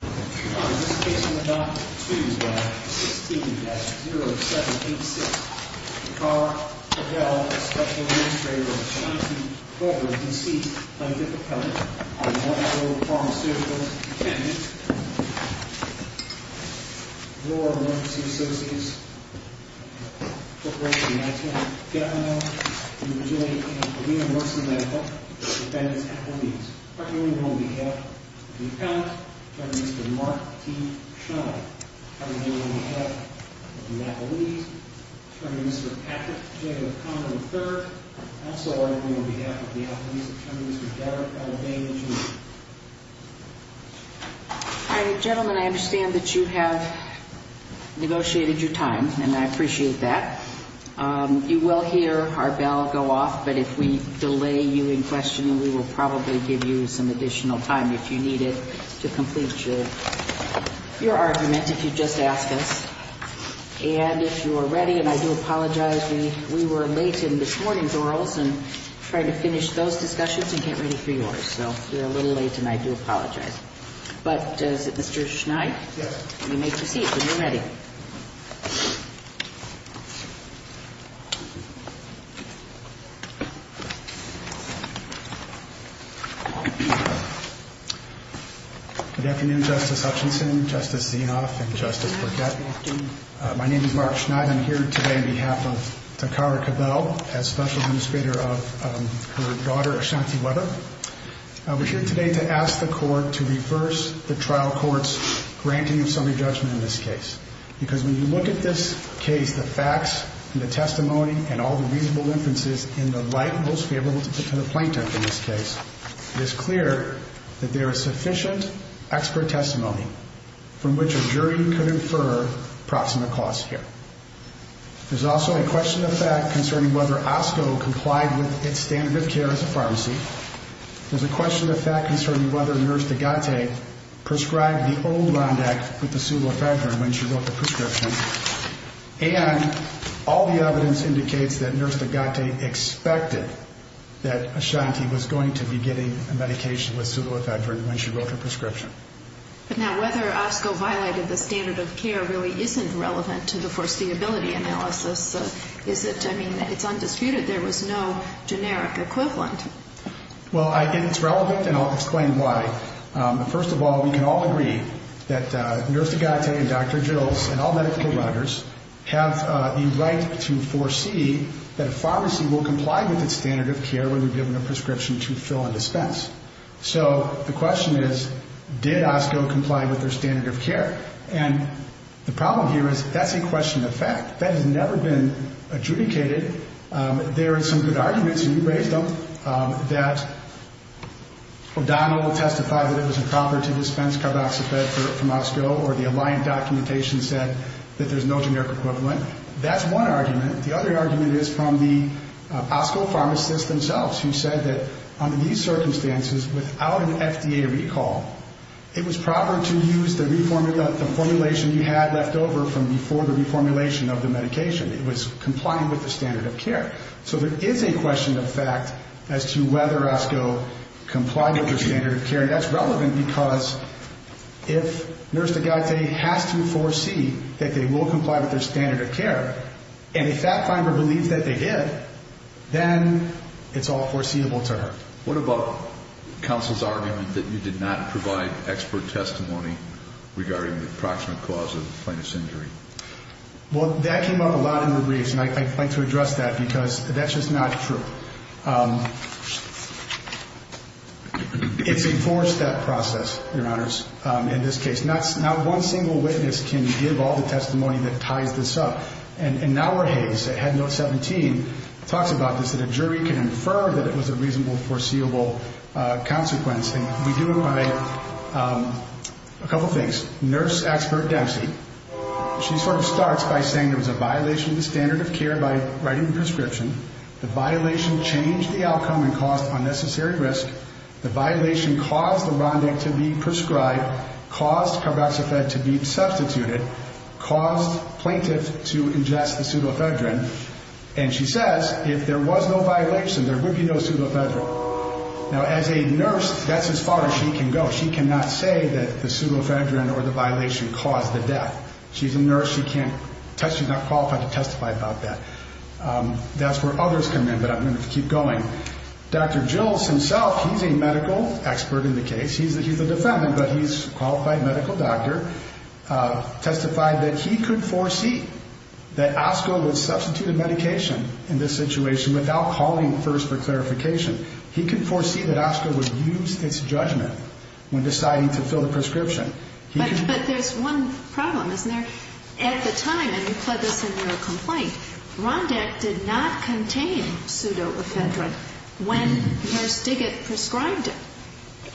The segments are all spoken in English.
In this case, we'll adopt 2 by 16-0786. The car, Cabell, a Special Administrator of Johnson, however, is deceased by difficulty on the 1st floor of the Pharmacueticals. The tenant, Laura Morton C. Associates, Corporation of the United States, Governor of New Virginia, and Paulina Morton Medical, is a defendant at her knees. Attorney General on behalf of the accountants, Attorney Mr. Mark T. Shum, Attorney General on behalf of the McAleese, Attorney Mr. Patrick J. O'Connor III, and also, Attorney General on behalf of the McAleese, Attorney Mr. Derek L. Dane Jr. All right, gentlemen, I understand that you have negotiated your time, and I appreciate that. You will hear our bell go off, but if we need it to complete your argument, if you just ask us. And if you are ready, and I do apologize, we were late in this morning's orals and trying to finish those discussions and get ready for yours. So we're a little late, and I do apologize. But is it Mr. Schneid? Yes. You may proceed when you're ready. Good afternoon, Justice Hutchinson, Justice Zinoff, and Justice Burkett. My name is Mark Schneid. I'm here today on behalf of Takara Cabell as Special Administrator of her daughter, Ashanti Webber. I'm here today to ask the Court to reverse the trial court's granting of summary judgment in this case. Because when you look at this case, the facts and the testimony and all the reasonable inferences in the light most favorable to the plaintiff in this case, it is clear that there is sufficient expert testimony from which a jury could infer proximate cause here. There's also a question of fact concerning whether OSCO complied with its standard of care as a pharmacy. There's a question of fact concerning whether Nurse Degate prescribed the old RONDAC with the pseudo-effector when she wrote the prescription. And all the evidence indicates that Nurse Degate expected that Ashanti was going to be getting a medication with pseudo-effector when she wrote her prescription. But now, whether OSCO violated the standard of care really isn't relevant to the foreseeability analysis. Is it? I mean, it's undisputed. There was no generic equivalent. Well, it's relevant, and I'll explain why. First of all, we can all agree that Nurse Degate have the right to foresee that a pharmacy will comply with its standard of care when we give them a prescription to fill and dispense. So the question is, did OSCO comply with their standard of care? And the problem here is, that's a question of fact. That has never been adjudicated. There are some good arguments, and you raised them, that O'Donnell testified that it was improper to dispense CARDOXIFED from OSCO, or the Alliant documentation said that there's no generic equivalent. That's one argument. The other argument is from the OSCO pharmacists themselves, who said that under these circumstances, without an FDA recall, it was proper to use the formulation you had left over from before the reformulation of the medication. It was complying with the standard of care. So there is a question of fact as to whether OSCO complied with their standard of care, and that's relevant because if Nurse Degate has to foresee that they will comply with their standard of care, and the fact finder believes that they did, then it's all foreseeable to her. What about counsel's argument that you did not provide expert testimony regarding the approximate cause of the plaintiff's injury? Well, that came up a lot in the briefs, and I'd like to address that because that's just not true. It's a four-step process, Your Honors, in this case. Not one single witness can give all the testimony that ties this up. And now we're hazed. Head Note 17 talks about this, that a jury can infer that it was a reasonable, foreseeable consequence, and we do it by a couple things. Nurse Expert Dempsey, she sort of starts by saying there was a violation of the standard of care by writing the prescription. The violation changed the outcome and caused unnecessary risk. The violation caused the Rondek to be prescribed caused carboxyphed to be substituted, caused plaintiff to ingest the pseudoephedrine, and she says if there was no violation, there would be no pseudoephedrine. Now, as a nurse, that's as far as she can go. She cannot say that the pseudoephedrine or the violation caused the death. She's a nurse. She's not qualified to testify about that. That's where others come in, but I'm going to keep going. Dr. Jills himself, he's a medical expert in the case. He's a defendant, but he's a qualified medical doctor, testified that he could foresee that OSCO would substitute a medication in this situation without calling first for clarification. He could foresee that OSCO would use its judgment when deciding to fill the prescription. But there's one problem, isn't there? At the time, and you put this in your complaint, Rondek did not contain pseudoephedrine when Nurse Diggett prescribed it,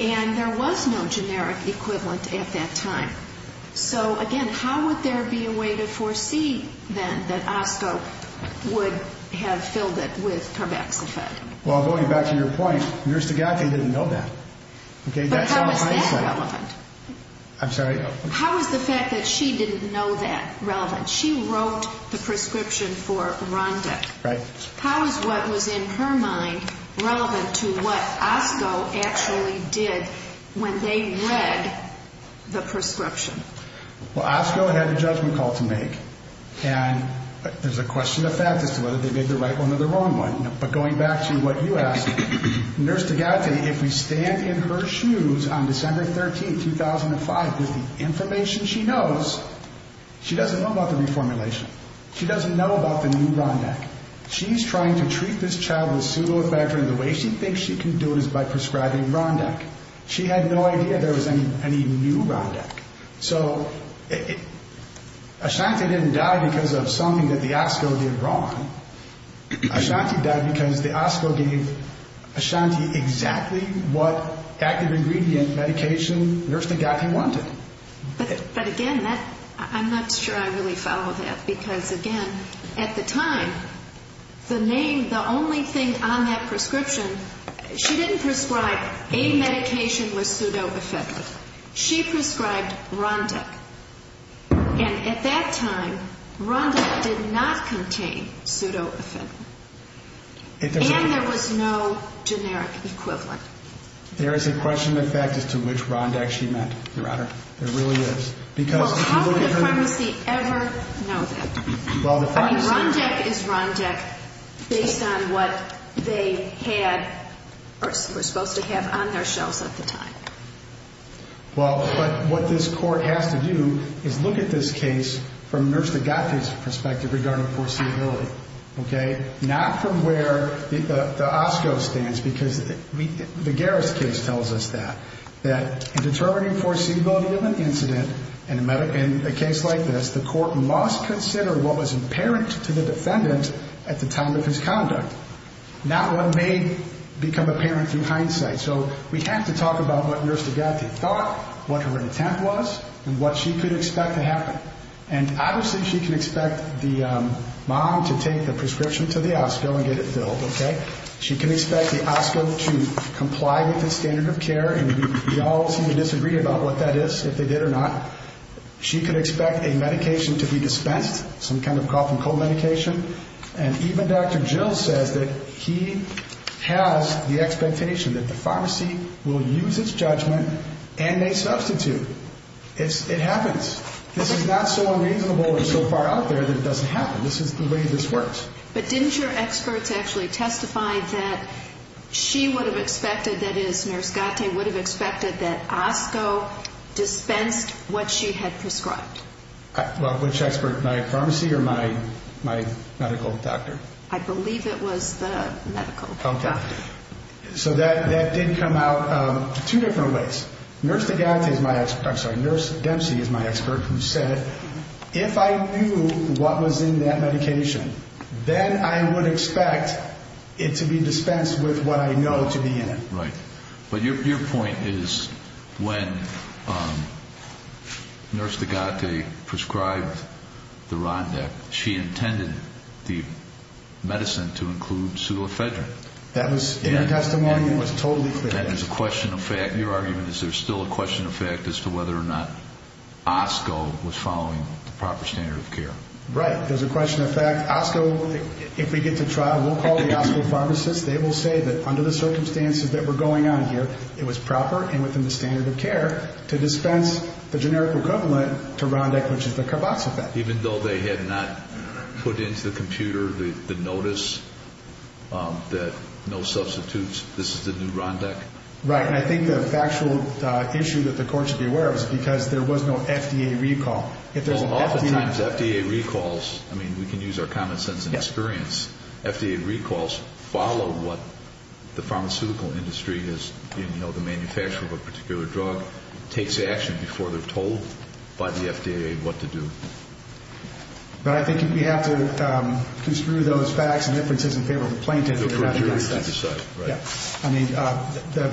and there was no generic equivalent at that time. So, again, how would there be a way to foresee then that OSCO would have filled it with carboxyphed? Well, going back to your point, Nurse Diggett didn't know that. But how is that relevant? I'm sorry? How is the fact that she didn't know that relevant? She wrote the prescription for Rondek. Right. How is what was in her mind relevant to what OSCO actually did when they read the prescription? Well, OSCO had a judgment call to make, and there's a question of fact as to whether they did the right one or the wrong one. But going back to what you asked, Nurse Diggett, if we stand in her shoes on December 13, 2005, with the information she knows, she doesn't know about the reformulation. She doesn't know about the new Rondek. She's trying to treat this child with pseudoephedrine and the way she thinks she can do it is by prescribing Rondek. She had no idea there was any new Rondek. So Ashanti didn't die because of something that the OSCO did wrong. Ashanti died because the OSCO gave Ashanti exactly what active ingredient medication Nurse Diggett wanted. But again, I'm not sure I really follow that because, again, at the time, the name, the only thing on that prescription, she didn't prescribe a medication with pseudoephedrine. She prescribed Rondek. And at that time, Rondek did not contain pseudoephedrine. And there was no generic equivalent. There is a question of fact as to which Rondek she meant, Your Honor. There really is. Well, how could the pharmacy ever know that? I mean, Rondek is Rondek based on what they had or were supposed to have on their shelves at the time. Well, but what this Court has to do is look at this case from Nurse Diggett's perspective regarding foreseeability, okay? Not from where the OSCO stands because the Garris case tells us that. That in determining foreseeability of an incident in a case like this, the Court must consider what was apparent to the defendant at the time of his conduct. Not what may become apparent through hindsight. So we have to talk about what Nurse Diggett thought, what her intent was, and what she could expect to happen. And obviously she can expect the mom to take the prescription to the OSCO and get it filled, okay? She can expect the OSCO to comply with the standard of care. And we all seem to disagree about what that is, if they did or not. She could expect a medication to be dispensed, some kind of cough and cold medication. And even Dr. Jill says that he has the expectation that the pharmacy will use its judgment and may substitute. It happens. This is not so unreasonable or so far out there that it doesn't happen. This is the way this works. But didn't your experts actually testify that she would have expected, that is, Nurse Diggett would have expected that OSCO dispensed what she had prescribed? Well, which expert? My pharmacy or my medical doctor? I believe it was the medical doctor. Okay. So that did come out two different ways. Nurse Diggett is my expert. I'm sorry. Nurse Dempsey is my expert who said, if I knew what was in that medication, then I would expect it to be dispensed with what I know to be in it. Right. But your point is when Nurse Diggett prescribed the RONDAC, she intended the medicine to include pseudoephedrine. That was in the testimony. It was totally clear. And there's a question of fact. Your argument is there's still a question of fact as to whether or not OSCO was following the proper standard of care. Right. There's a question of fact. OSCO, if we get to trial, we'll call the OSCO pharmacists. They will say that under the circumstances that were going on here, it was proper and within the standard of care to dispense the generic equivalent to RONDAC, which is the CARB-X effect. Even though they had not put into the computer the notice that no substitutes, this is the new RONDAC? Right. And I think the factual issue that the court should be aware of is because there was no FDA recall. Oftentimes, FDA recalls, I mean, we can use our common sense and experience. FDA recalls follow what the pharmaceutical industry is, the manufacturer of a particular drug, takes action before they're told by the FDA what to do. But I think we have to construe those facts and inferences in favor of the plaintiff. The majority should decide. Yeah. I mean,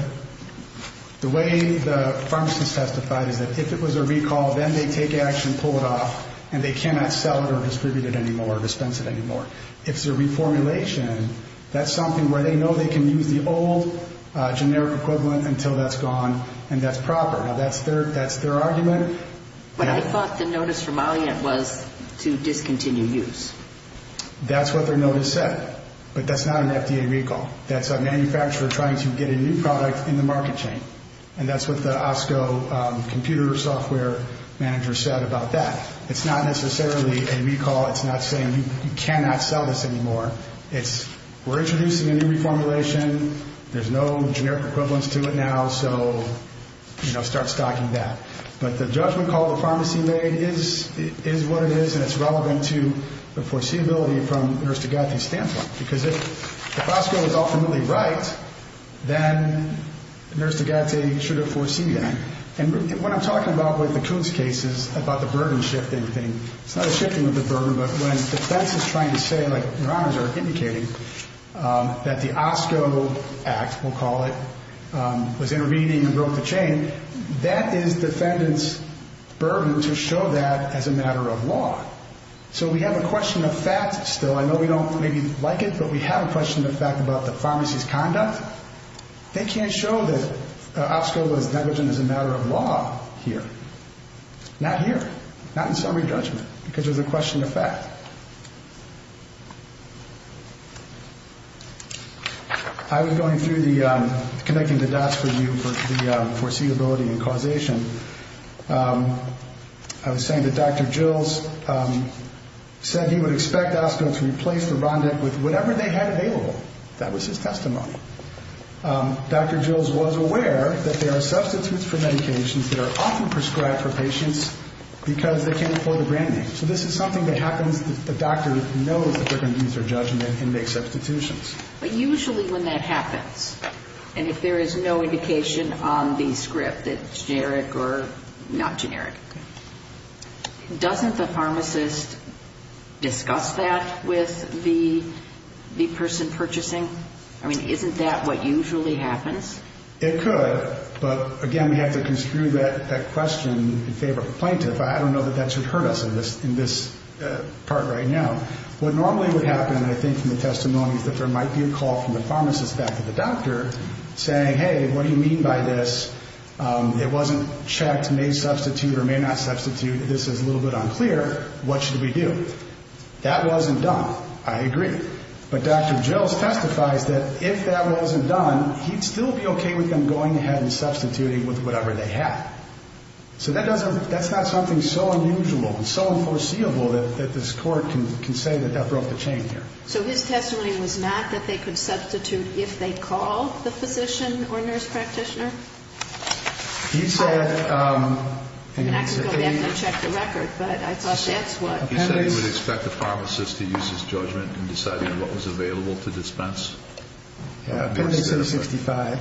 the way the pharmacist testified is that if it was a recall, then they take action, pull it off, and they cannot sell it or distribute it anymore or dispense it anymore. If it's a reformulation, that's something where they know they can use the old generic equivalent until that's gone and that's proper. Now, that's their argument. But I thought the notice from Alliant was to discontinue use. That's what their notice said. But that's not an FDA recall. That's a manufacturer trying to get a new product in the market chain. And that's what the OSCO computer software manager said about that. It's not necessarily a recall. It's not saying you cannot sell this anymore. It's we're introducing a new reformulation. There's no generic equivalence to it now. So, you know, start stocking that. But the judgment call the pharmacy made is what it is, and it's relevant to the foreseeability from Nurse Degate's standpoint. Because if the OSCO is ultimately right, then Nurse Degate should have foreseen that. And what I'm talking about with the Coons case is about the burden shifting thing. It's not a shifting of the burden, but when defense is trying to say, like your honors are indicating, that the OSCO act, we'll call it, was intervening and broke the chain, that is defendant's burden to show that as a matter of law. So we have a question of fact still. I know we don't maybe like it, but we have a question of fact about the pharmacy's conduct. They can't show that OSCO was negligent as a matter of law here. Not here. Not in summary judgment. Because there's a question of fact. I was going through the connecting the dots for you for the foreseeability and causation. I was saying that Dr. Jills said he would expect OSCO to replace the RONDEC with whatever they had available. That was his testimony. Dr. Jills was aware that there are substitutes for medications that are often prescribed for patients because they can't afford the brand name. So this is something that happens if the doctor knows that they're going to use their judgment and make substitutions. But usually when that happens, and if there is no indication on the script that it's generic or not generic, doesn't the pharmacist discuss that with the person purchasing? I mean, isn't that what usually happens? It could. But, again, we have to construe that question in favor of the plaintiff. I don't know that that should hurt us in this part right now. What normally would happen, I think, from the testimony is that there might be a call from the pharmacist back to the doctor saying, hey, what do you mean by this? It wasn't checked, may substitute or may not substitute. This is a little bit unclear. What should we do? That wasn't done. I agree. But Dr. Jills testifies that if that wasn't done, he'd still be okay with them going ahead and substituting with whatever they had. So that's not something so unusual and so unforeseeable that this court can say that that broke the chain here. So his testimony was not that they could substitute if they called the physician or nurse practitioner? He said he would expect the pharmacist to use his judgment in deciding what was available to dispense? Yeah, page 665.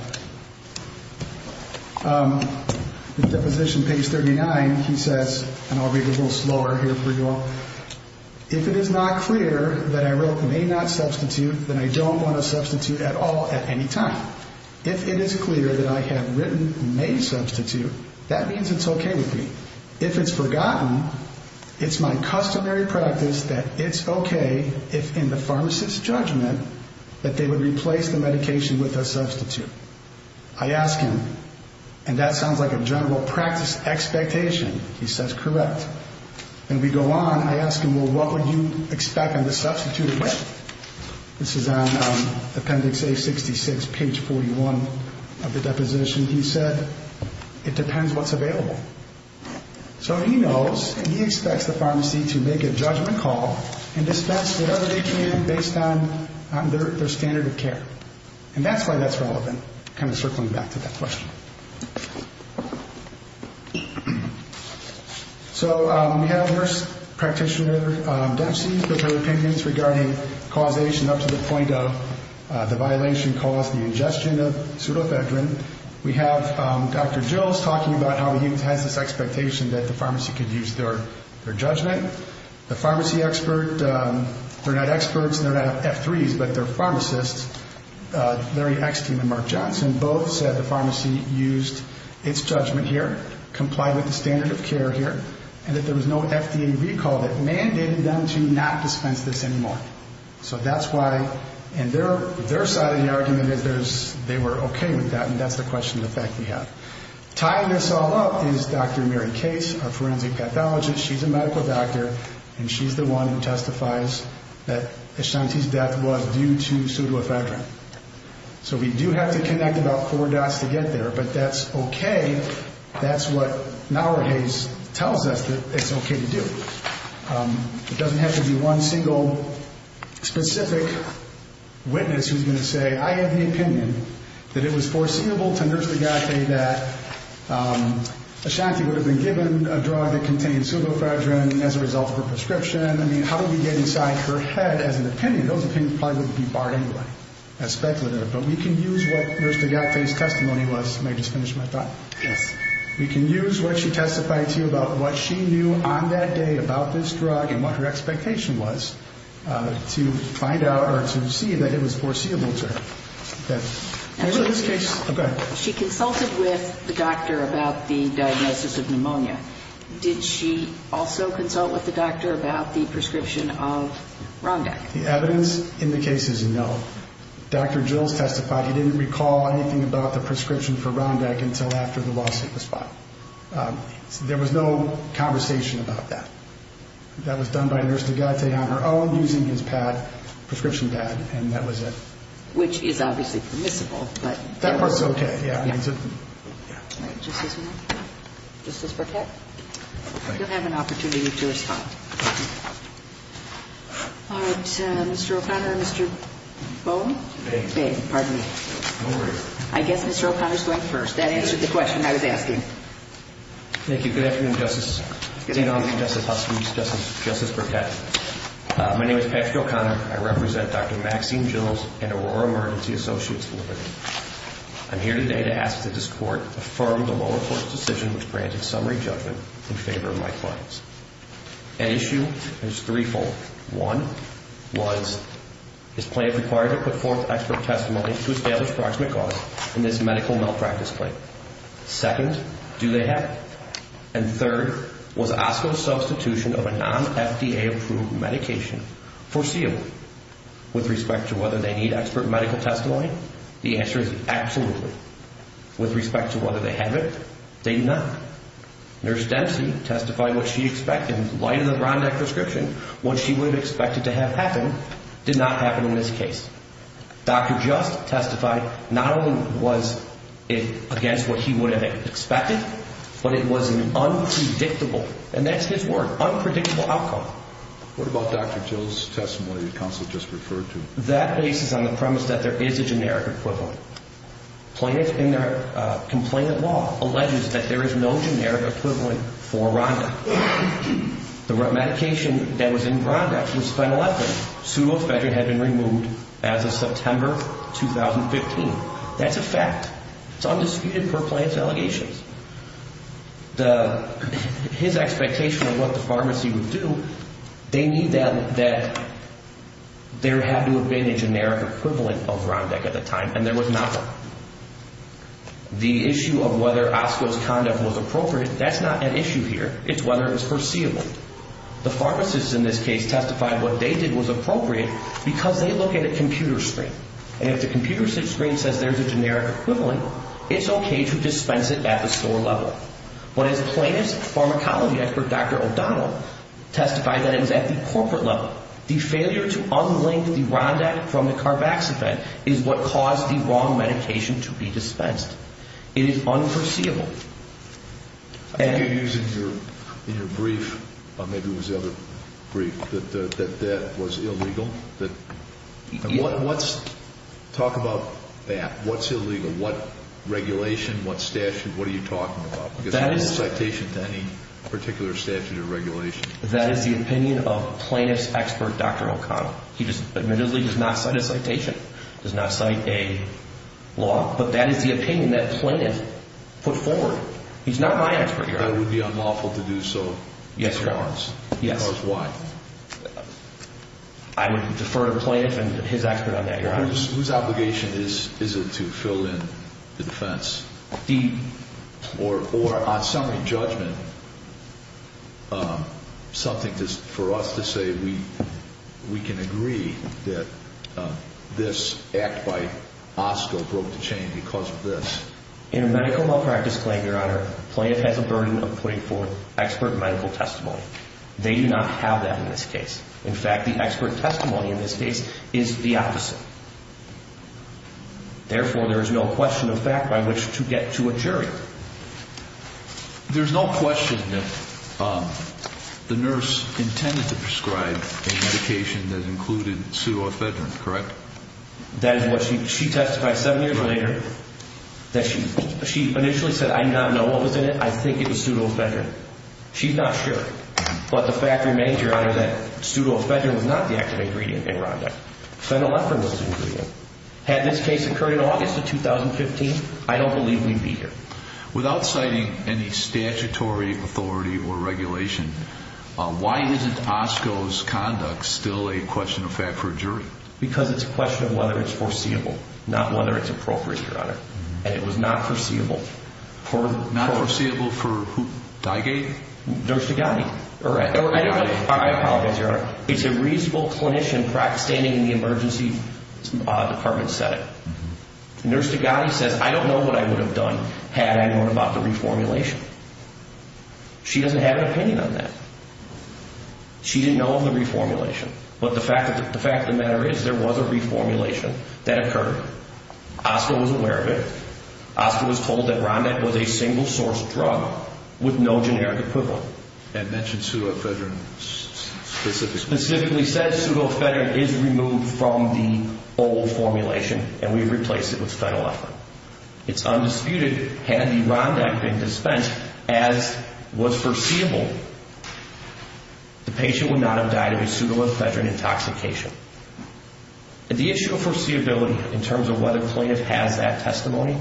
In deposition page 39, he says, and I'll read it a little slower here for you all, if it is not clear that I wrote may not substitute, then I don't want to substitute at all at any time. If it is clear that I have written may substitute, that means it's okay with me. If it's forgotten, it's my customary practice that it's okay if in the pharmacist's judgment that they would replace the medication with a substitute. I ask him, and that sounds like a general practice expectation. He says, correct. And we go on. I ask him, well, what would you expect them to substitute it with? This is on appendix A66, page 41 of the deposition. He said, it depends what's available. So he knows, he expects the pharmacy to make a judgment call and dispense whatever they can based on their standard of care. And that's why that's relevant, kind of circling back to that question. So we had a nurse practitioner, Debsi, with her opinions regarding causation up to the point of the violation caused the ingestion of pseudoephedrine. We have Dr. Jills talking about how he has this expectation that the pharmacy could use their judgment. The pharmacy expert, they're not experts, they're not F3s, but they're pharmacists, Larry Ekstein and Mark Johnson, both said the pharmacy used its judgment here, complied with the standard of care here, and that there was no FDA recall that mandated them to not dispense this anymore. So that's why, and their side of the argument is they were okay with that, and that's the question of the fact we have. Tying this all up is Dr. Mary Case, our forensic pathologist. She's a medical doctor, and she's the one who testifies that Ashanti's death was due to pseudoephedrine. So we do have to connect about four dots to get there, but that's okay. That's what Nauerhase tells us that it's okay to do. It doesn't have to be one single specific witness who's going to say, I have the opinion that it was foreseeable to Nurse Degate that Ashanti would have been given a drug that contained pseudoephedrine as a result of her prescription. I mean, how do we get inside her head as an opinion? Those opinions probably wouldn't be barred anyway as speculative, but we can use what Nurse Degate's testimony was. May I just finish my thought? Yes. We can use what she testified to you about what she knew on that day about this drug and what her expectation was to find out or to see that it was foreseeable to her. Actually, she consulted with the doctor about the diagnosis of pneumonia. Did she also consult with the doctor about the prescription of Rondac? The evidence in the case is no. Dr. Gilles testified he didn't recall anything about the prescription for Rondac until after the lawsuit was filed. There was no conversation about that. That was done by Nurse Degate on her own using his prescription pad, and that was it. Which is obviously permissible. That part's okay. All right. Just this one? Just this book here? Thank you. You'll have an opportunity to respond. All right. Mr. O'Connor and Mr. Bone? Beg. Beg. Pardon me. No worries. I guess Mr. O'Connor's going first. That answered the question I was asking. Thank you. Good afternoon, Justice. Good afternoon. Seeing none, Justice Huffman, Justice Burkett. My name is Patrick O'Connor. I represent Dr. Maxine Gilles and Aurora Emergency Associates Limited. I'm here today to ask that this Court affirm the lower court's decision which granted summary judgment in favor of my clients. An issue that is threefold. One was his plan required to put forth expert testimony to establish proximate cause in this medical malpractice claim. Second, do they have it? And third, was OSCO's substitution of a non-FDA-approved medication foreseeable? With respect to whether they need expert medical testimony, the answer is absolutely. With respect to whether they have it, they do not. Nurse Dempsey testified what she expected. In light of the Rondak prescription, what she would have expected to have happen did not happen in this case. Dr. Just testified not only was it against what he would have expected, but it was an unpredictable, and that's his word, unpredictable outcome. What about Dr. Gilles' testimony that counsel just referred to? That bases on the premise that there is a generic equivalent. Complainant law alleges that there is no generic equivalent for Rondak. The medication that was in Rondak was phenyleptic. Pseudofedrin had been removed as of September 2015. That's a fact. It's undisputed per Plante's allegations. His expectation of what the pharmacy would do, they knew that there had to have been a generic equivalent of Rondak at the time, and there was not one. The issue of whether Osco's conduct was appropriate, that's not an issue here. It's whether it was foreseeable. The pharmacists in this case testified what they did was appropriate because they look at a computer screen. And if the computer screen says there's a generic equivalent, it's okay to dispense it at the store level. When his plaintiff's pharmacology expert, Dr. O'Donnell, testified that it was at the corporate level. The failure to unlink the Rondak from the Carbax effect is what caused the wrong medication to be dispensed. It is unforeseeable. I think you're using in your brief, or maybe it was the other brief, that that was illegal. Talk about that. What's illegal? What regulation? What statute? What are you talking about? Because there's no citation to any particular statute or regulation. That is the opinion of plaintiff's expert, Dr. O'Donnell. He just admittedly does not cite a citation, does not cite a law. But that is the opinion that plaintiff put forward. He's not my expert, Your Honor. That it would be unlawful to do so. Yes, it was. Yes. Because of what? I would defer to the plaintiff and his expert on that, Your Honor. Whose obligation is it to fill in the defense? Or on summary judgment, something for us to say we can agree that this act by OSCO broke the chain because of this. In a medical malpractice claim, Your Honor, plaintiff has a burden of putting forth expert medical testimony. They do not have that in this case. In fact, the expert testimony in this case is the opposite. Therefore, there is no question of fact by which to get to a jury. There's no question that the nurse intended to prescribe a medication that included pseudofedrin, correct? That is what she testified seven years later. That she initially said, I do not know what was in it. I think it was pseudofedrin. She's not sure. But the fact remains, Your Honor, that pseudofedrin was not the active ingredient in Rhonda. Phenolephrine was the ingredient. Had this case occurred in August of 2015, I don't believe we'd be here. Without citing any statutory authority or regulation, why isn't OSCO's conduct still a question of fact for a jury? Because it's a question of whether it's foreseeable, not whether it's appropriate, Your Honor. And it was not foreseeable. Not foreseeable for who? Dygate? Nurse Dygate. I apologize, Your Honor. It's a reasonable clinician standing in the emergency department setting. Nurse Dygate says, I don't know what I would have done had I known about the reformulation. She doesn't have an opinion on that. She didn't know of the reformulation. But the fact of the matter is there was a reformulation that occurred. OSCO was aware of it. OSCO was told that Rhonda was a single-source drug with no generic equivalent. And mentioned pseudoephedrine specifically. Specifically said pseudoephedrine is removed from the old formulation, and we replaced it with phenylephrine. It's undisputed. Had the Rhonda been dispensed as was foreseeable, the patient would not have died of a pseudoephedrine intoxication. The issue of foreseeability in terms of whether the plaintiff has that testimony,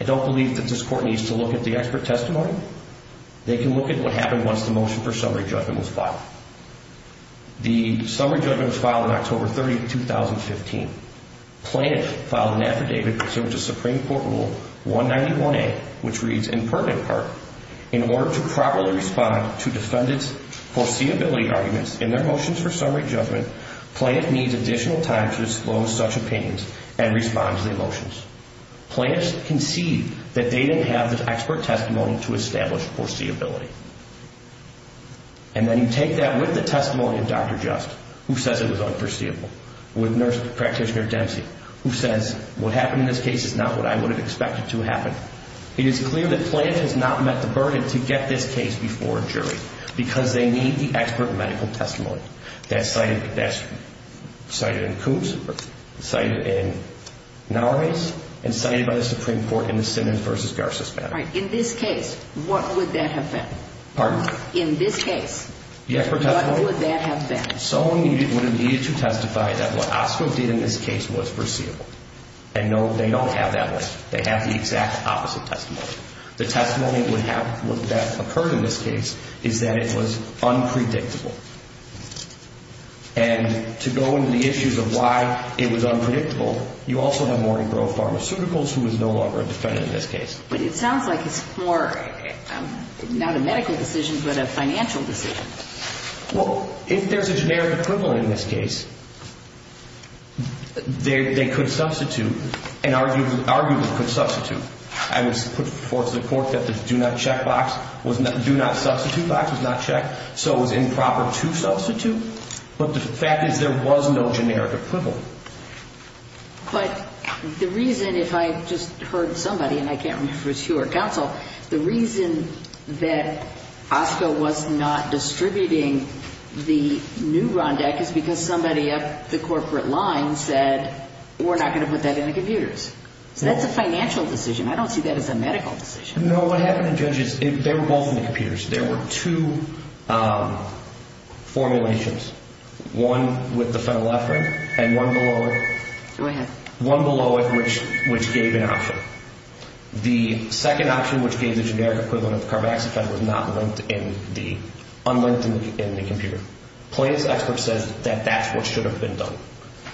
I don't believe that this Court needs to look at the expert testimony. They can look at what happened once the motion for summary judgment was filed. The summary judgment was filed on October 30, 2015. Plaintiff filed an affidavit pursuant to Supreme Court Rule 191A, which reads in permanent part, in order to properly respond to defendant's foreseeability arguments in their motions for summary judgment, plaintiff needs additional time to disclose such opinions and respond to the motions. Plaintiffs concede that they didn't have the expert testimony to establish foreseeability. And then you take that with the testimony of Dr. Just, who says it was unforeseeable, with nurse practitioner Dempsey, who says, what happened in this case is not what I would have expected to happen. It is clear that plaintiff has not met the burden to get this case before a jury because they need the expert medical testimony. In this case, what would that have been? In this case, what would that have been? Someone would have needed to testify that what Oscar did in this case was foreseeable. And no, they don't have that. They have the exact opposite testimony. The testimony that occurred in this case is that it was unpredictable. And to go into the issues of why it was unpredictable, you also have Maureen Grove Pharmaceuticals, who is no longer a defendant in this case. But it sounds like it's more, not a medical decision, but a financial decision. Well, if there's a generic equivalent in this case, they could substitute, an argument could substitute. I would put forth to the court that the do not check box, do not substitute box was not checked, so it was improper to substitute. But the fact is there was no generic equivalent. But the reason, if I just heard somebody, and I can't remember if it was you or counsel, the reason that Oscar was not distributing the new RONDAC is because somebody up the corporate line said, we're not going to put that in the computers. So that's a financial decision. I don't see that as a medical decision. No, what happened in judges, they were both in the computers. There were two formulations, one with the phenylephrine and one below it. Go ahead. One below it, which gave an option. The second option, which gave the generic equivalent of the carboxyphen, was not linked in the, unlinked in the computer. Plaintiff's expert says that that's what should have been done.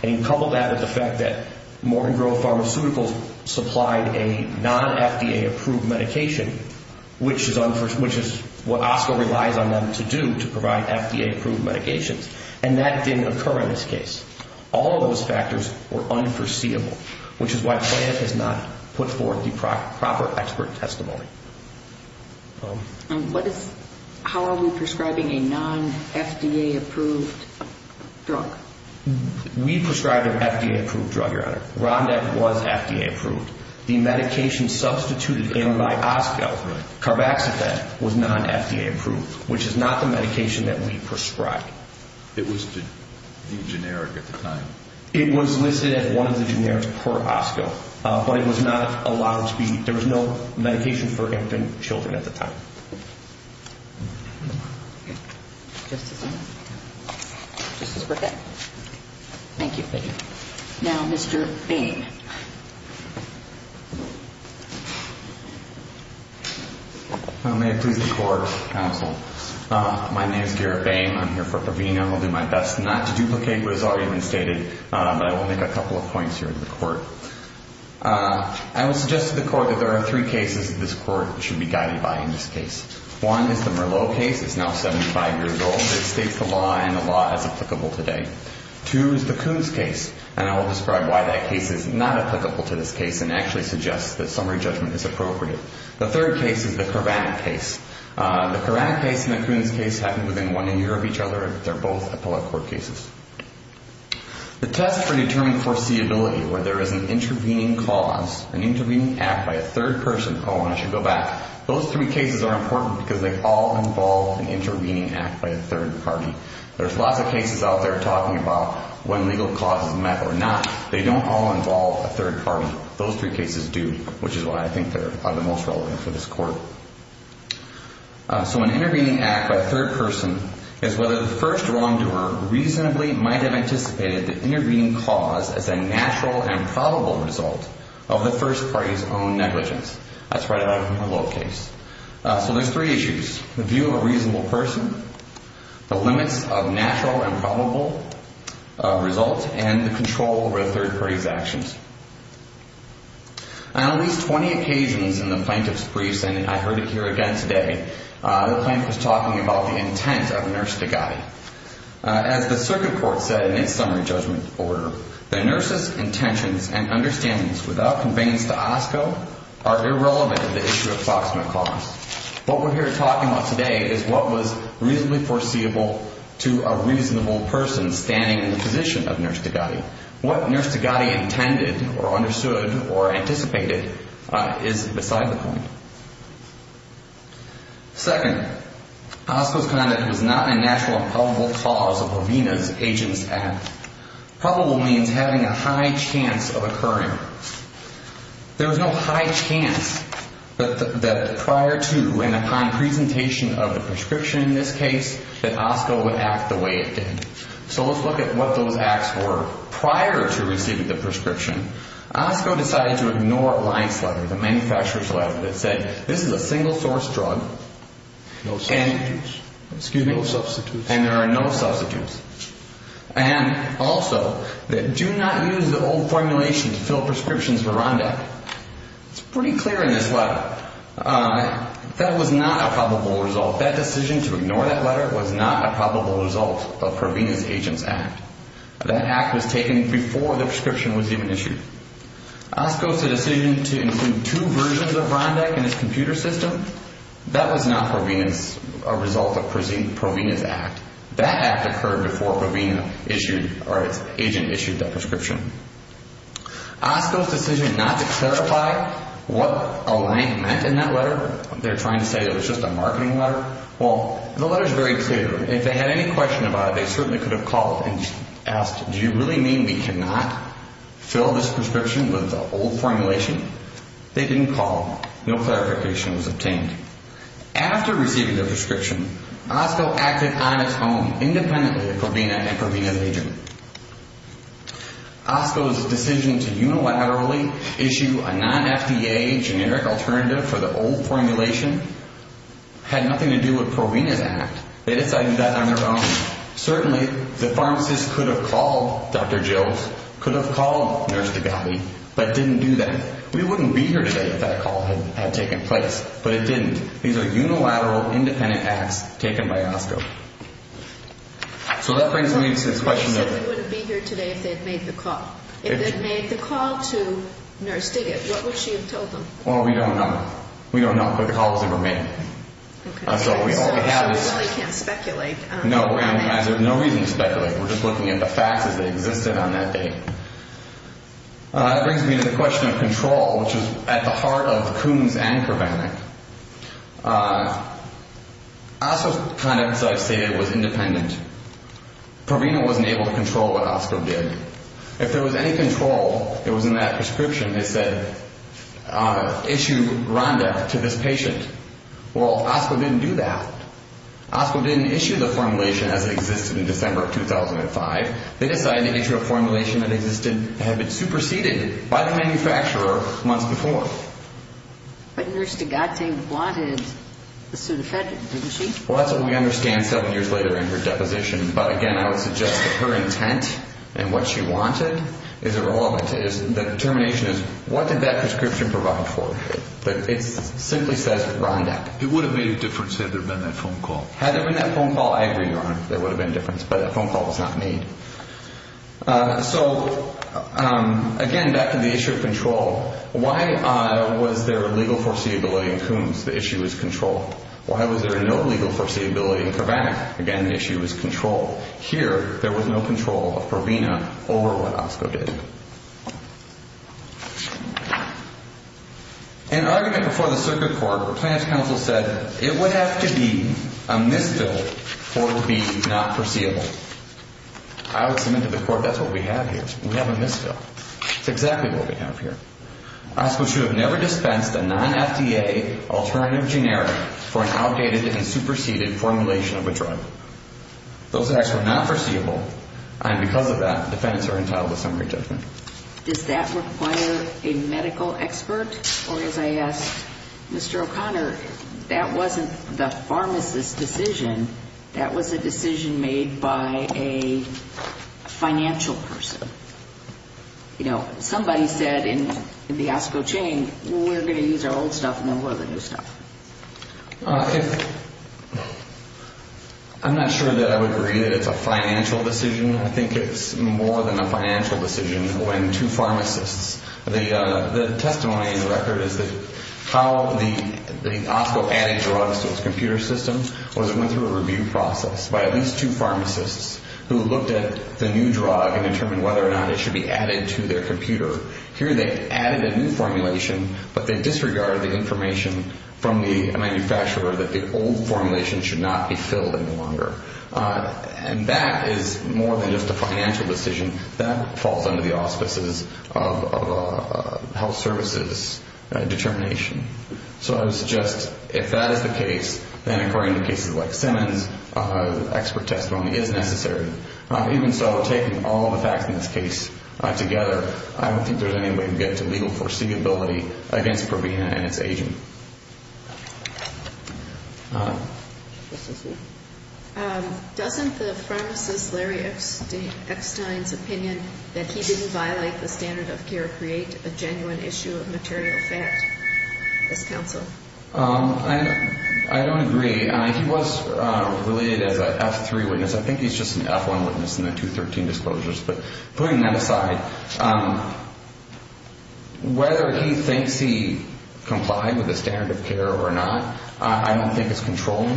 And couple that with the fact that Maureen Grove Pharmaceuticals supplied a non-FDA-approved medication, which is what Oscar relies on them to do to provide FDA-approved medications. And that didn't occur in this case. All of those factors were unforeseeable, which is why plaintiff has not put forth the proper expert testimony. And what is, how are we prescribing a non-FDA-approved drug? We prescribed an FDA-approved drug, Your Honor. RONDAC was FDA-approved. The medication substituted in by OSCO, carboxyphen, was non-FDA-approved, which is not the medication that we prescribed. It was the generic at the time. It was listed as one of the generics per OSCO, but it was not allowed to be, there was no medication for infant children at the time. Just a second. Just a second. Thank you. Thank you. Now Mr. Boehm. May it please the Court, Counsel. My name is Garrett Boehm. I'm here for Proveno. I'll do my best not to duplicate what was already been stated, but I will make a couple of points here in the Court. I will suggest to the Court that there are three cases that this Court should be guided by in this case. One is the Merlot case. It's now 75 years old. It states the law and the law as applicable today. Two is the Coons case, and I will describe why that case is not applicable to this case and actually suggest that summary judgment is appropriate. The third case is the Coranek case. The Coranek case and the Coons case happen within one year of each other. They're both appellate court cases. The test for determining foreseeability, where there is an intervening cause, an intervening act by a third person, oh, I should go back. Those three cases are important because they all involve an intervening act by a third party. There's lots of cases out there talking about when legal cause is met or not. They don't all involve a third party. Those three cases do, which is why I think they are the most relevant for this Court. So an intervening act by a third person is whether the first wrongdoer reasonably might have anticipated the intervening cause as a natural and probable result of the first party's own negligence. That's right out of the Merlot case. So there's three issues, the view of a reasonable person, the limits of natural and probable result, and the control over a third party's actions. On at least 20 occasions in the plaintiff's briefs, and I heard it here again today, the plaintiff was talking about the intent of Nurse Degatti. As the circuit court said in its summary judgment order, the nurse's intentions and understandings without conveyance to OSCO are irrelevant to the issue of approximate cause. What we're here talking about today is what was reasonably foreseeable to a reasonable person standing in the position of Nurse Degatti. What Nurse Degatti intended or understood or anticipated is beside the point. Second, OSCO's conduct was not a natural and probable cause of Avina's agent's act. Probable means having a high chance of occurring. There was no high chance that prior to and upon presentation of the prescription in this case, that OSCO would act the way it did. So let's look at what those acts were prior to receiving the prescription. OSCO decided to ignore a lines letter, the manufacturer's letter, that said this is a single-source drug. No substitutes. Excuse me? No substitutes. And there are no substitutes. And also, do not use the old formulation to fill prescriptions for Rondek. It's pretty clear in this letter. That was not a probable result. That decision to ignore that letter was not a probable result of Provena's agent's act. That act was taken before the prescription was even issued. OSCO's decision to include two versions of Rondek in its computer system, that was not a result of Provena's act. That act occurred before Provena issued or its agent issued that prescription. OSCO's decision not to clarify what a line meant in that letter, they're trying to say it was just a marketing letter. Well, the letter's very clear. If they had any question about it, they certainly could have called and asked, do you really mean we cannot fill this prescription with the old formulation? They didn't call. No clarification was obtained. After receiving their prescription, OSCO acted on its own, independently of Provena and Provena's agent. OSCO's decision to unilaterally issue a non-FDA generic alternative for the old formulation had nothing to do with Provena's act. They decided that on their own. Certainly, the pharmacist could have called Dr. Jills, could have called Nurse Degabi, but didn't do that. We wouldn't be here today if that call had taken place. But it didn't. These are unilateral, independent acts taken by OSCO. So that brings me to this question. You said they wouldn't be here today if they had made the call. If they had made the call to Nurse Degabi, what would she have told them? Well, we don't know. We don't know. But the call was never made. Okay. So we really can't speculate. No, we're going to have no reason to speculate. We're just looking at the facts as they existed on that day. That brings me to the question of control, which is at the heart of Coombs and Provenic. OSCO's conduct, as I've stated, was independent. Provena wasn't able to control what OSCO did. If there was any control that was in that prescription, they said issue Rhonda to this patient. Well, OSCO didn't do that. OSCO didn't issue the formulation as it existed in December of 2005. They decided to issue a formulation that existed and had been superseded by the manufacturer months before. But Nurse Degabi wanted the Sudafedrin, didn't she? Well, that's what we understand seven years later in her deposition. But, again, I would suggest that her intent and what she wanted is irrelevant. The determination is what did that prescription provide for? It simply says Rhonda. It would have made a difference had there been that phone call. Had there been that phone call, I agree, Your Honor, there would have been a difference. But that phone call was not made. So, again, back to the issue of control. Why was there legal foreseeability in Coombs? The issue is control. Why was there no legal foreseeability in Kovac? Again, the issue is control. Here, there was no control of Provena over what OSCO did. In an argument before the circuit court, Plaintiff's counsel said it would have to be a misfill for it to be not foreseeable. I would submit to the court that's what we have here. We have a misfill. It's exactly what we have here. OSCO should have never dispensed a non-FDA alternative generic for an outdated and superseded formulation of a drug. Those acts were not foreseeable, and because of that, defendants are entitled to summary judgment. Does that require a medical expert? Or, as I asked Mr. O'Connor, that wasn't the pharmacist's decision. That was a decision made by a financial person. You know, somebody said in the OSCO chain, we're going to use our old stuff and then we'll have the new stuff. I'm not sure that I would agree that it's a financial decision. I think it's more than a financial decision when two pharmacists, the testimony in the record is that how the OSCO added drugs to its computer system was it went through a review process by at least two pharmacists who looked at the new drug and determined whether or not it should be added to their computer. Here they added a new formulation, but they disregarded the information from the manufacturer that the old formulation should not be filled any longer. And that is more than just a financial decision. That falls under the auspices of health services determination. So I would suggest if that is the case, then according to cases like Simmons, expert testimony is necessary. Even so, taking all the facts in this case together, I don't think there's any way to get to legal foreseeability against Provena and its agent. Thank you. Doesn't the pharmacist Larry Eckstein's opinion that he didn't violate the standard of care create a genuine issue of material fact? Yes, counsel. I don't agree. He was related as an F3 witness. I think he's just an F1 witness in the 213 disclosures. But putting that aside, whether he thinks he complied with the standard of care or not, I don't think it's controlling.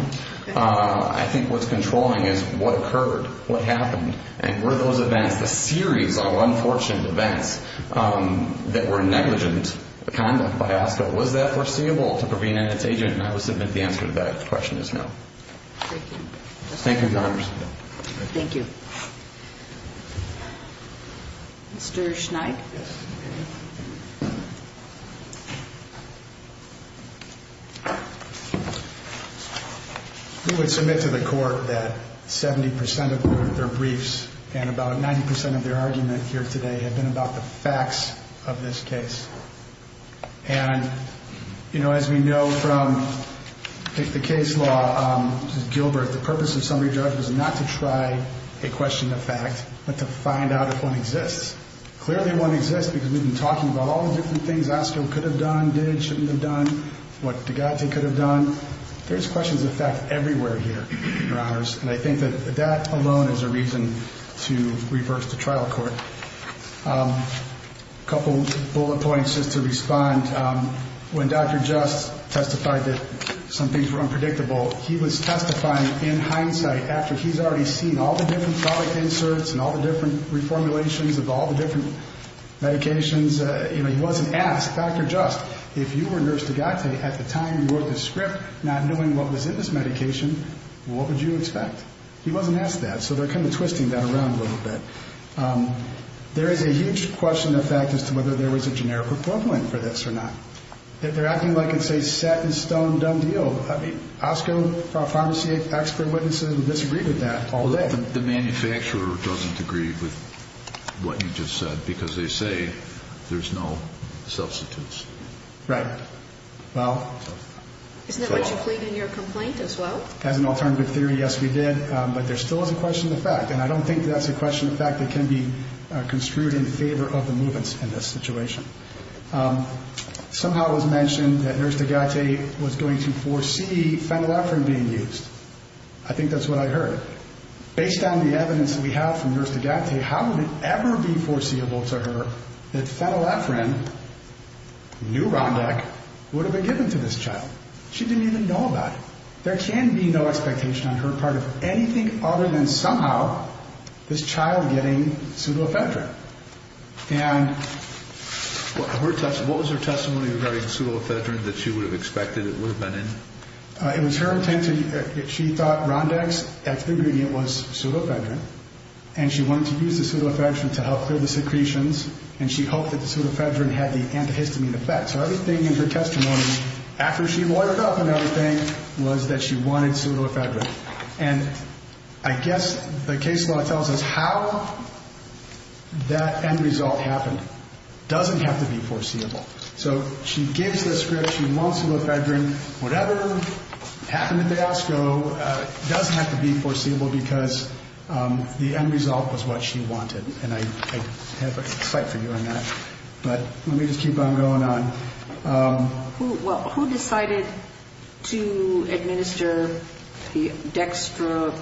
I think what's controlling is what occurred, what happened, and were those events, the series of unfortunate events that were negligent conduct by OSCO, was that foreseeable to Provena and its agent? And I would submit the answer to that question is no. Thank you. Thank you, Congressman. Thank you. Thank you. Mr. Schneik? Yes. We would submit to the court that 70 percent of their briefs and about 90 percent of their argument here today have been about the facts of this case. And, you know, as we know from the case law, Gilbert, the purpose of summary judge was not to try a question of fact but to find out if one exists. Clearly one exists because we've been talking about all the different things OSCO could have done, did, shouldn't have done, what Degate could have done. There's questions of fact everywhere here, Your Honors. And I think that that alone is a reason to reverse the trial court. A couple bullet points just to respond. When Dr. Just testified that some things were unpredictable, he was testifying in hindsight after he's already seen all the different product inserts and all the different reformulations of all the different medications. You know, he wasn't asked, Dr. Just, if you were Nurse Degate at the time you wrote this script not knowing what was in this medication, what would you expect? He wasn't asked that. So they're kind of twisting that around a little bit. There is a huge question of fact as to whether there was a generic report point for this or not. They're acting like it's a set-in-stone, done deal. I mean, OSCO pharmacy expert witnesses have disagreed with that all day. The manufacturer doesn't agree with what you just said because they say there's no substitutes. Right. Isn't that what you plead in your complaint as well? As an alternative theory, yes, we did. But there still is a question of fact, and I don't think that's a question of fact that can be construed in favor of the movements in this situation. Somehow it was mentioned that Nurse Degate was going to foresee phenylephrine being used. I think that's what I heard. Based on the evidence that we have from Nurse Degate, how would it ever be foreseeable to her that phenylephrine, Neurondec, would have been given to this child? She didn't even know about it. There can be no expectation on her part of anything other than somehow this child getting pseudofedrin. And what was her testimony regarding pseudofedrin that she would have expected it would have been in? It was her intent. She thought Rondex, that's the ingredient, was pseudofedrin. And she wanted to use the pseudofedrin to help clear the secretions. And she hoped that the pseudofedrin had the antihistamine effect. So everything in her testimony, after she loitered up and everything, was that she wanted pseudofedrin. And I guess the case law tells us how that end result happened. It doesn't have to be foreseeable. So she gives the script. She wants pseudofedrin. Whatever happened at the hospital doesn't have to be foreseeable because the end result was what she wanted. And I have a cite for you on that. But let me just keep on going on. Who decided to administer the dextromethorphan?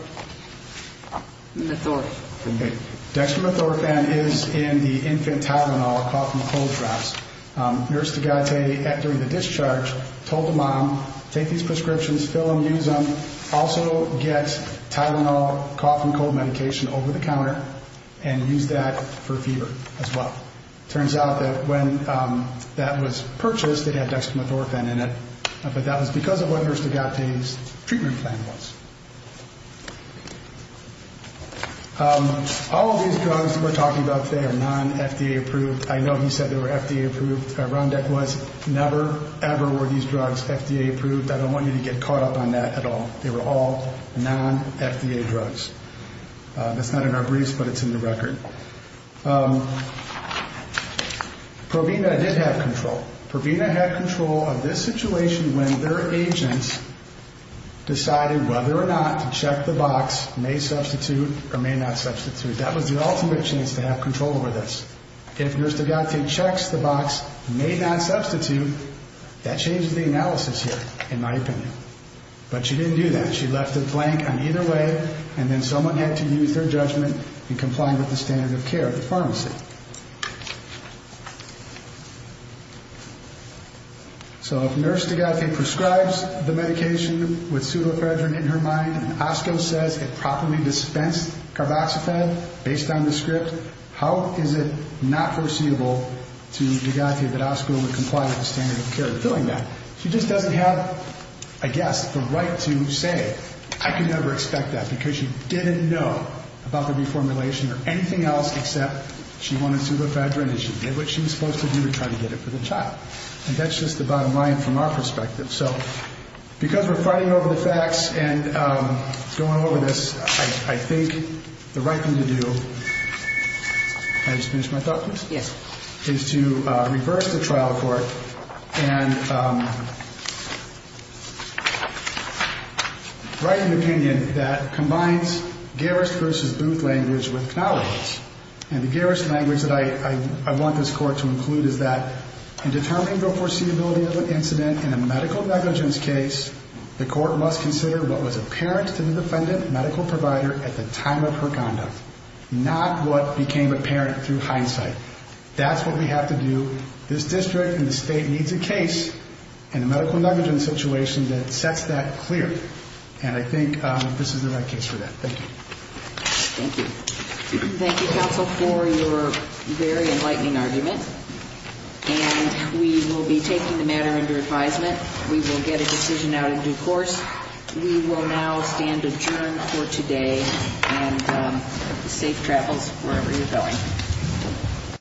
Dextromethorphan is in the infant Tylenol cough and cold drops. Nurse Degate, during the discharge, told the mom, take these prescriptions, fill them, use them. Also get Tylenol cough and cold medication over the counter and use that for fever as well. Turns out that when that was purchased, it had dextromethorphan in it. But that was because of what Nurse Degate's treatment plan was. All of these drugs that we're talking about today are non-FDA approved. I know he said they were FDA approved. Rundeck was. Never, ever were these drugs FDA approved. I don't want you to get caught up on that at all. They were all non-FDA drugs. That's not in our briefs, but it's in the record. Provena did have control. Provena had control of this situation when their agents decided whether or not to check the box, may substitute or may not substitute. That was the ultimate chance to have control over this. If Nurse Degate checks the box, may not substitute, that changes the analysis here, in my opinion. But she didn't do that. She left it blank on either way, and then someone had to use their judgment in complying with the standard of care at the pharmacy. So if Nurse Degate prescribes the medication with Sulafredrin in her mind, and OSCO says it properly dispensed carboxyphed based on the script, how is it not foreseeable to Degate that OSCO would comply with the standard of care in doing that? She just doesn't have, I guess, the right to say, I could never expect that, because she didn't know about the reformulation or anything else except she wanted Sulafredrin, and she did what she was supposed to do to try to get it for the child. And that's just the bottom line from our perspective. So because we're fighting over the facts and going over this, I think the right thing to do is to reverse the trial court and write an opinion that combines Garris versus Booth language with Knauwe's. And the Garris language that I want this court to include is that in determining the foreseeability of an incident in a medical negligence case, the court must consider what was apparent to the defendant medical provider at the time of her conduct, not what became apparent through hindsight. That's what we have to do. This district and the state needs a case in a medical negligence situation that sets that clear. And I think this is the right case for that. Thank you. Thank you. Thank you, counsel, for your very enlightening argument. And we will be taking the matter into advisement. We will get a decision out in due course. We will now stand adjourned for today, and safe travels wherever you're going.